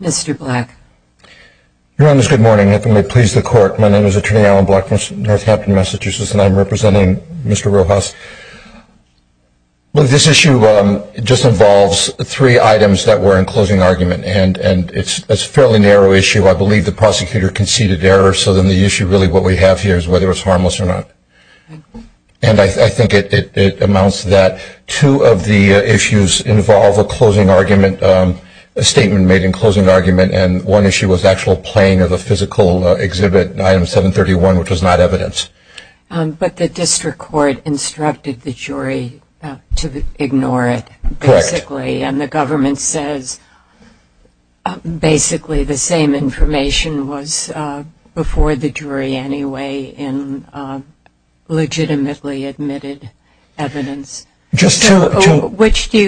Mr. Black. Your Honors, good morning. If it may please the Court, my name is Attorney Alan Black from Northampton, Massachusetts, and I'm representing Mr. Rojas. This issue just involves three items that were in closing argument, and it's a fairly narrow issue. I believe the prosecutor conceded error, so then the issue really what we have here is whether it's harmless or not. And I think it amounts to that. Two of the issues involve a closing argument, a statement made in closing argument, and one issue was actual playing of a physical exhibit, item 731, which was not evidence. Justice Kagan But the district court instructed the jury to ignore it basically, and the government says basically the same information was before the jury anyway in legitimately admitted evidence. Justice Breyer Just to Justice Kagan Which do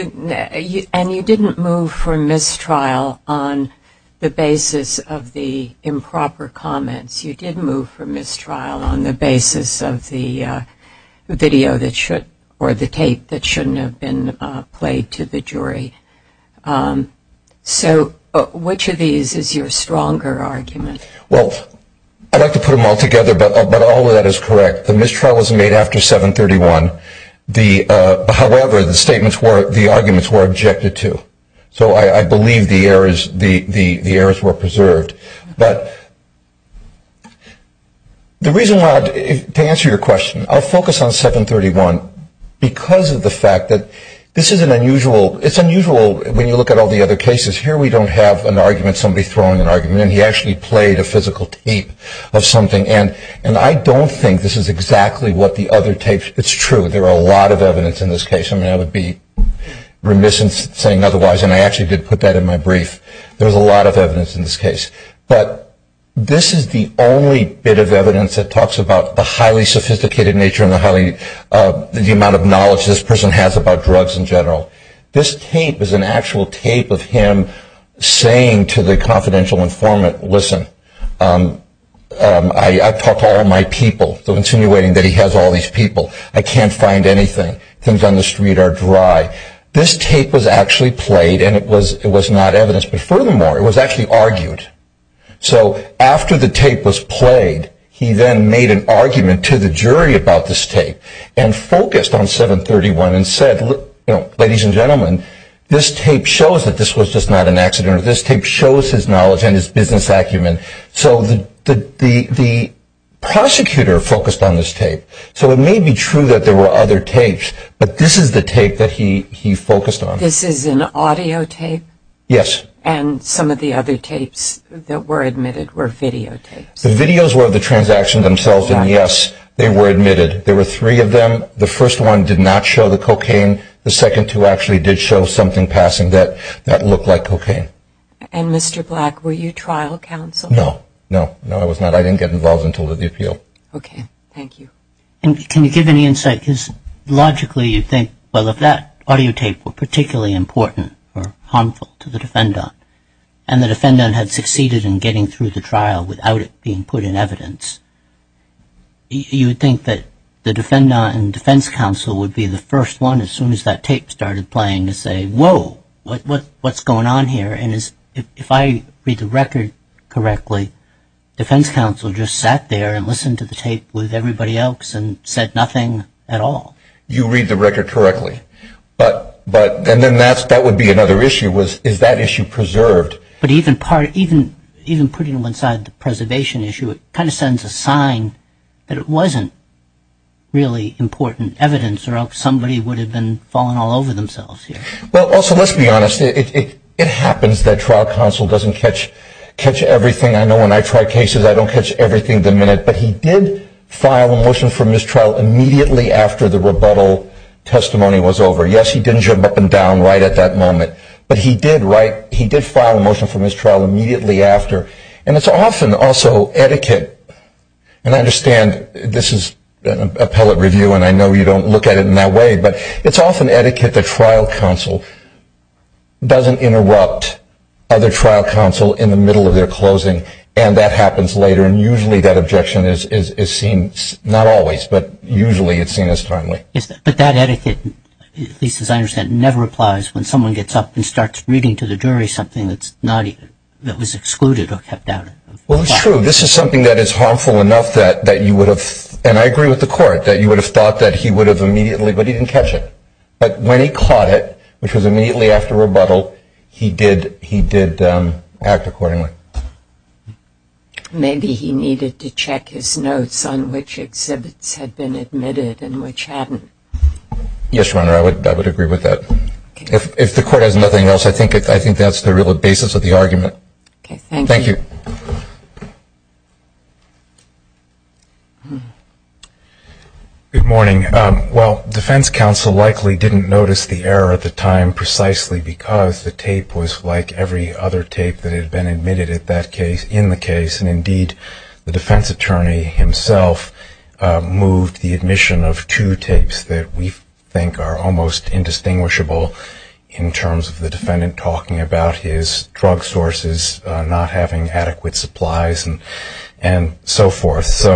you, and you didn't move for mistrial on the basis of the improper comments. You did move for mistrial on the basis of the video that should, or the tape that shouldn't have been played to the jury. So which of I'd like to put them all together, but all of that is correct. The mistrial was made after 731. However, the statements were, the arguments were objected to. So I believe the errors were preserved. But the reason why, to answer your question, I'll focus on 731 because of the fact that this is an unusual, it's unusual when you look at all the other cases. Here we don't have an argument, somebody throwing an argument, and he actually played a physical tape of something. And I don't think this is exactly what the other tapes, it's true, there are a lot of evidence in this case. I would be remiss in saying otherwise, and I actually did put that in my brief. There's a lot of evidence in this case. But this is the only bit of evidence that talks about the highly sophisticated nature and the amount of knowledge this person has about drugs in general. This tape is an actual tape of him saying to the confidential informant, listen, I've talked to all my people, so insinuating that he has all these people. I can't find anything. Things on the street are dry. This tape was actually played and it was not evidence. But furthermore, it was actually argued. So after the tape was played, he then made an argument to the jury about this tape and focused on 731 and said, ladies and gentlemen, this tape shows that this was just not an accident. This tape shows his knowledge and his business acumen. So the prosecutor focused on this tape. So it may be true that there were other tapes, but this is the tape that he focused on. This is an audio tape? Yes. And some of the other tapes that were admitted were video tapes. The videos were the transaction themselves, and yes, they were admitted. There were three of them. The first one did not show the cocaine. The second two actually did show something passing that looked like cocaine. And Mr. Black, were you trial counsel? No. No. No, I was not. I didn't get involved until the appeal. Okay. Thank you. And can you give any insight, because logically you think, well, if that audio tape were particularly important or harmful to the defendant and the defendant had succeeded in getting through the trial without it being put in evidence, you would think that the defendant and defense counsel would be the first one, as soon as that tape started playing, to say, whoa, what's going on here? And if I read the record correctly, defense counsel just sat there and listened to the tape with everybody else and said nothing at all. You read the record correctly. And then that would be another issue, is that issue preserved? But even putting them inside the preservation issue, it kind of sends a sign that it wasn't really important evidence or else somebody would have been falling all over themselves. Well, also, let's be honest. It happens that trial counsel doesn't catch everything. I know when I try cases, I don't catch everything the minute. But he did file a motion for mistrial immediately after the trial. And it's often also etiquette, and I understand this is an appellate review and I know you don't look at it in that way, but it's often etiquette that trial counsel doesn't interrupt other trial counsel in the middle of their closing and that happens later. And usually that objection is seen, not always, but usually it's seen as timely. But that etiquette, at least as I understand, never applies when someone gets up and starts reading to the jury something that's not even, that was excluded or kept out of the file. Well, it's true. This is something that is harmful enough that you would have, and I agree with the court, that you would have thought that he would have immediately, but he didn't catch it. But when he caught it, which was immediately after rebuttal, he did act accordingly. Maybe he needed to check his notes on which exhibits had been admitted and which hadn't. Yes, Your Honor, I would agree with that. If the court has nothing else, I think that's the real basis of the argument. Okay, thank you. Good morning. Well, defense counsel likely didn't notice the error at the time precisely because the tape was like every other tape that had been admitted in the case. And indeed, the defense attorney himself moved the admission of two tapes that we think are almost indistinguishable in terms of the defendant talking about his drug sources, not having adequate supplies, and so forth.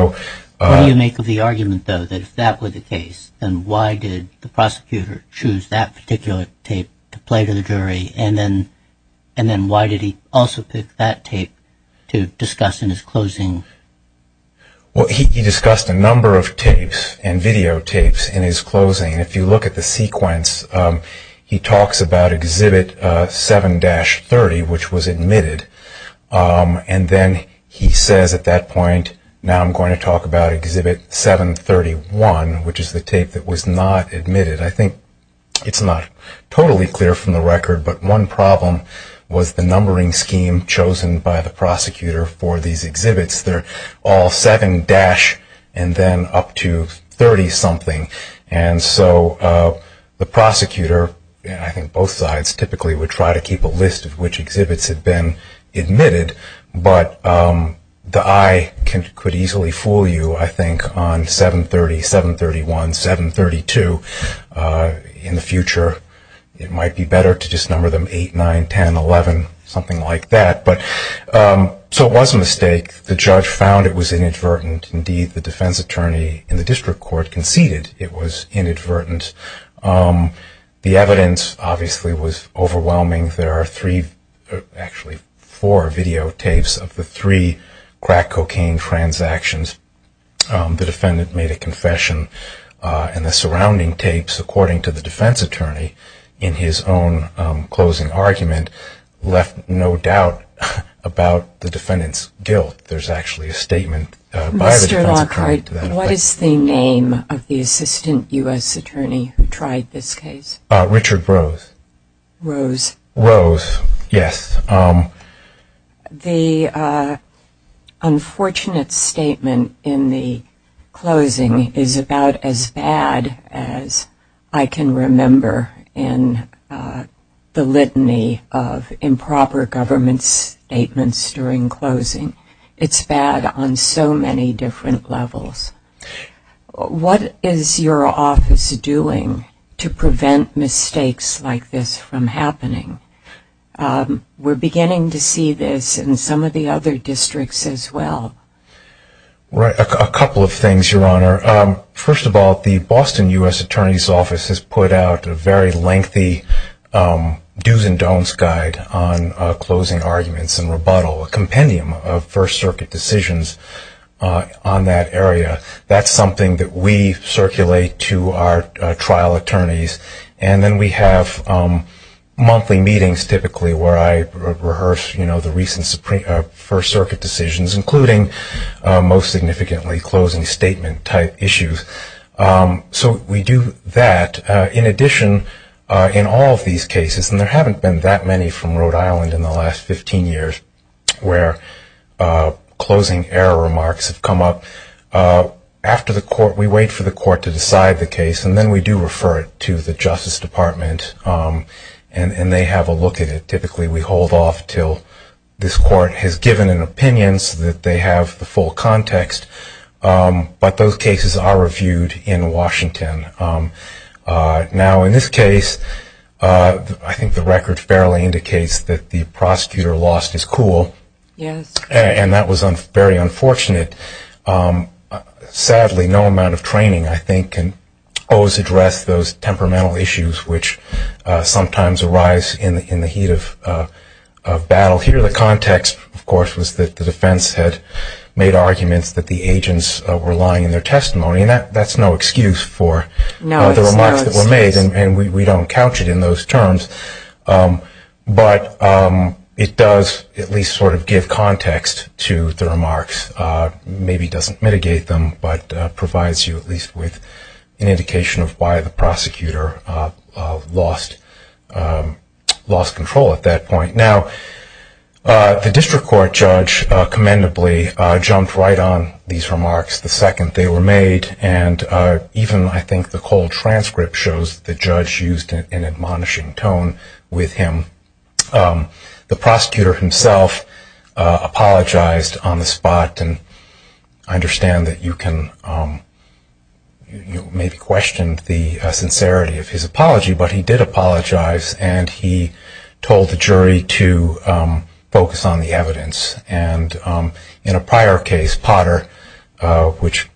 What do you make of the argument, though, that if that were the case, then why did the jury, and then why did he also pick that tape to discuss in his closing? Well, he discussed a number of tapes and videotapes in his closing. If you look at the sequence, he talks about exhibit 7-30, which was admitted, and then he says at that point, now I'm going to talk about exhibit 7-31, which is the tape that was not admitted. I think it's not totally clear from the record, but one problem was the numbering scheme chosen by the prosecutor for these exhibits. They're all 7- and then up to 30-something. And so the prosecutor, I think both sides typically would try to keep a list of which exhibits had been admitted, but the eye could easily fool you, I think, on 7-30, 7-31, 7-32. In the future, it might be better to just number them 8, 9, 10, 11, something like that. So it was a mistake. The judge found it was inadvertent. Indeed, the defense attorney in the district court conceded it was inadvertent. The evidence, obviously, was overwhelming. There are three, actually four videotapes of the three crack cocaine transactions. The defendant made a confession, and the surrounding tapes, according to the defense attorney, in his own closing argument, left no doubt about the defendant's guilt. There's actually a statement by the defense attorney to that effect. Mr. Lockhart, what is the name of the assistant U.S. attorney who tried this case? Richard Rose. Rose. Rose, yes. The unfortunate statement in the closing is about as bad as I can remember in my life. In the litany of improper government statements during closing, it's bad on so many different levels. What is your office doing to prevent mistakes like this from happening? We're beginning to see this in some of the other districts as well. Richard Rose. Right. A couple of things, Your Honor. First of all, the Boston U.S. Attorney's Office has put out a very lengthy do's and don'ts guide on closing arguments and rebuttal, a compendium of First Circuit decisions on that area. That's something that we circulate to our trial attorneys. And then we have monthly meetings, typically, where I rehearse the recent First Circuit decisions, including most significantly closing statement type issues. So we do that. In addition, in all of these cases, and there haven't been that many from Rhode Island in the last 15 years where closing error remarks have come up, we wait for the court to decide the case, and then we do refer it to the Justice Department, and they have a look at it. Typically, we hold off until this court has given an opinion so that they have the full context, but those cases are reviewed in Washington. Now in this case, I think the record fairly indicates that the prosecutor lost his cool, and that was very unfortunate. Sadly, no amount of training, I think, can always address those temperamental issues which sometimes arise in the heat of battle. Here, the context, of course, was that the defense had made arguments that the agents were lying in their testimony. That's no excuse for the remarks that were made, and we don't couch it in those terms. But it does at least sort of give context to the remarks. Maybe doesn't mitigate them, but provides you at least with an indication of why the prosecutor lost control at that point. The district court judge commendably jumped right on these remarks the second they were made, and even, I think, the cold transcript shows the judge used an admonishing tone with him. The prosecutor himself apologized on the spot, and I understand that you can maybe question the sincerity of his apology, but he did apologize, and he told the jury to focus on the evidence. And in a prior case, Potter, which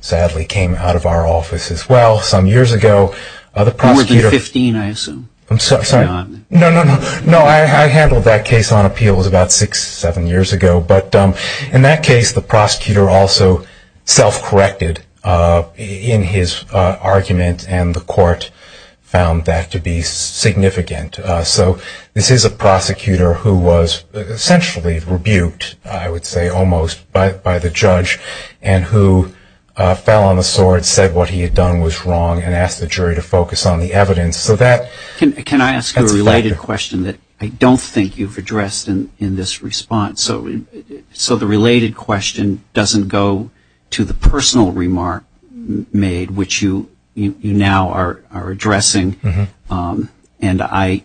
sadly came out of our office as well some years ago, the prosecutor... More than 15, I assume. No, no, no. I handled that case on appeals about six, seven years ago. But in that case, the prosecutor also self-corrected in his argument, and the court found that to be significant. So this is a prosecutor who was essentially rebuked, I would say almost, by the judge, and who fell on the sword, said what he had done was wrong, and asked the jury to focus on the evidence. So that... Can I ask a related question that I don't think you've addressed in this response? So the related question doesn't go to the personal remark made, which you now are addressing, and I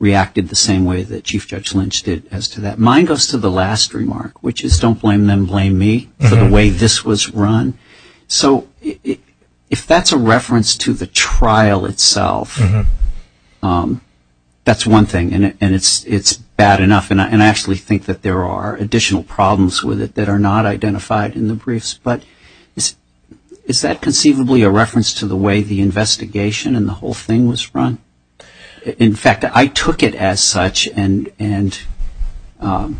reacted the same way that Chief Judge Lynch did as to that. Mine goes to the last remark, which is don't blame them, blame me for the way this was run. So if that's a reference to the trial itself, that's one thing, and it's bad enough, and I actually think that there are additional problems with it that are not identified in the briefs. But is that conceivably a reference to the way the investigation and the whole thing was run? In fact, I took it as such, and there are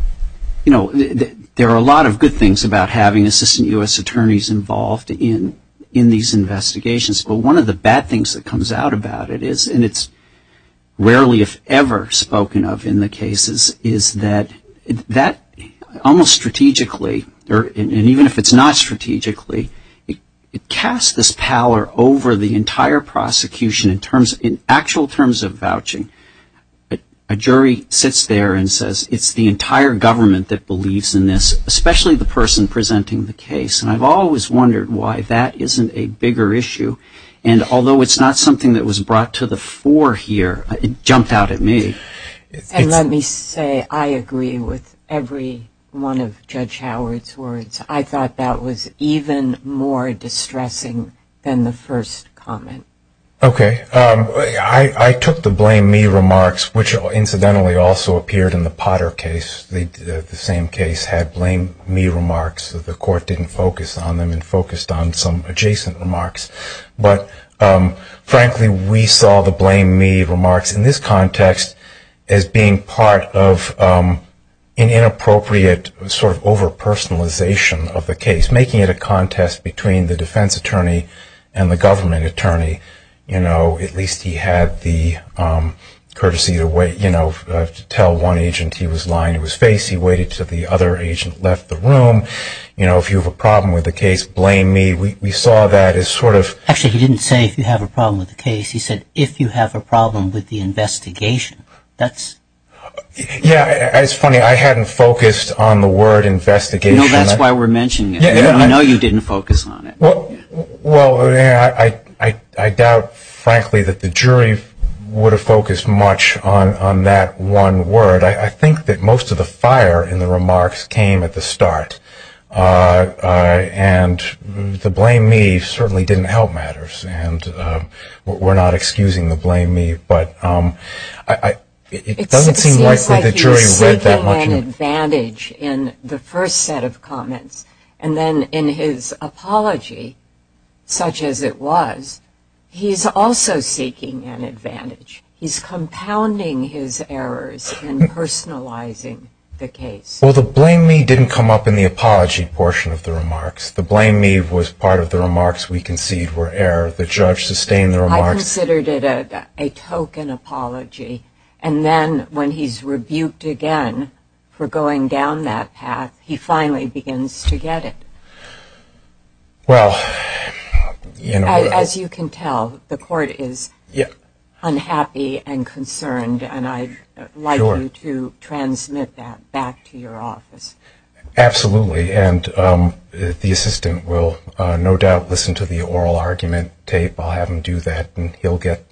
a lot of good things about having Assistant U.S. Attorneys involved in these investigations, but one of the bad things that comes out about it is, and it's rarely if ever spoken of in the cases, is that almost strategically, and even if it's not strategically, it casts this pallor over the entire prosecution in terms, in actual terms of vouching. A jury sits there and says it's the entire government that believes in this, especially the person presenting the case, and I've always wondered why that isn't a bigger issue, and although it's not something that was brought to the fore here, it jumped out at me. And let me say, I agree with every one of Judge Howard's words. I thought that was even more distressing than the first comment. Okay. I took the blame me remarks, which incidentally also appeared in the Potter case, the same case had blame me remarks, the court didn't focus on them and focused on some adjacent remarks, but frankly we saw the blame me remarks in this context as being part of an inappropriate sort of over-personalization of the case, making it a contest between the defense attorney and the government attorney, you know, at least he had the courtesy to tell one agent he was lying to his face, he waited until the other agent left the room, you know, if you saw that as sort of... Actually, he didn't say if you have a problem with the case, he said if you have a problem with the investigation, that's... Yeah, it's funny, I hadn't focused on the word investigation. No, that's why we're mentioning it. I know you didn't focus on it. Well, I doubt frankly that the jury would have focused much on that one word. I think that most of the fire in the remarks came at the start, and the blame me certainly didn't help matters, and we're not excusing the blame me, but it doesn't seem likely the jury read It seems like he was seeking an advantage in the first set of comments, and then in his apology, such as it was, he's also seeking an advantage. He's compounding his errors and personalizing the case. Well, the blame me didn't come up in the apology portion of the remarks. The blame me was part of the remarks we concede were error. The judge sustained the remarks... I considered it a token apology, and then when he's rebuked again for going down that path, he finally begins to get it. Well, you know... Absolutely, and the assistant will no doubt listen to the oral argument tape. I'll have him do that, and he'll get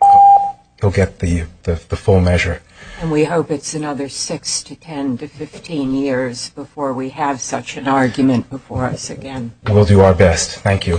the full measure. We hope it's another 6 to 10 to 15 years before we have such an argument before us again. We'll do our best. Thank you.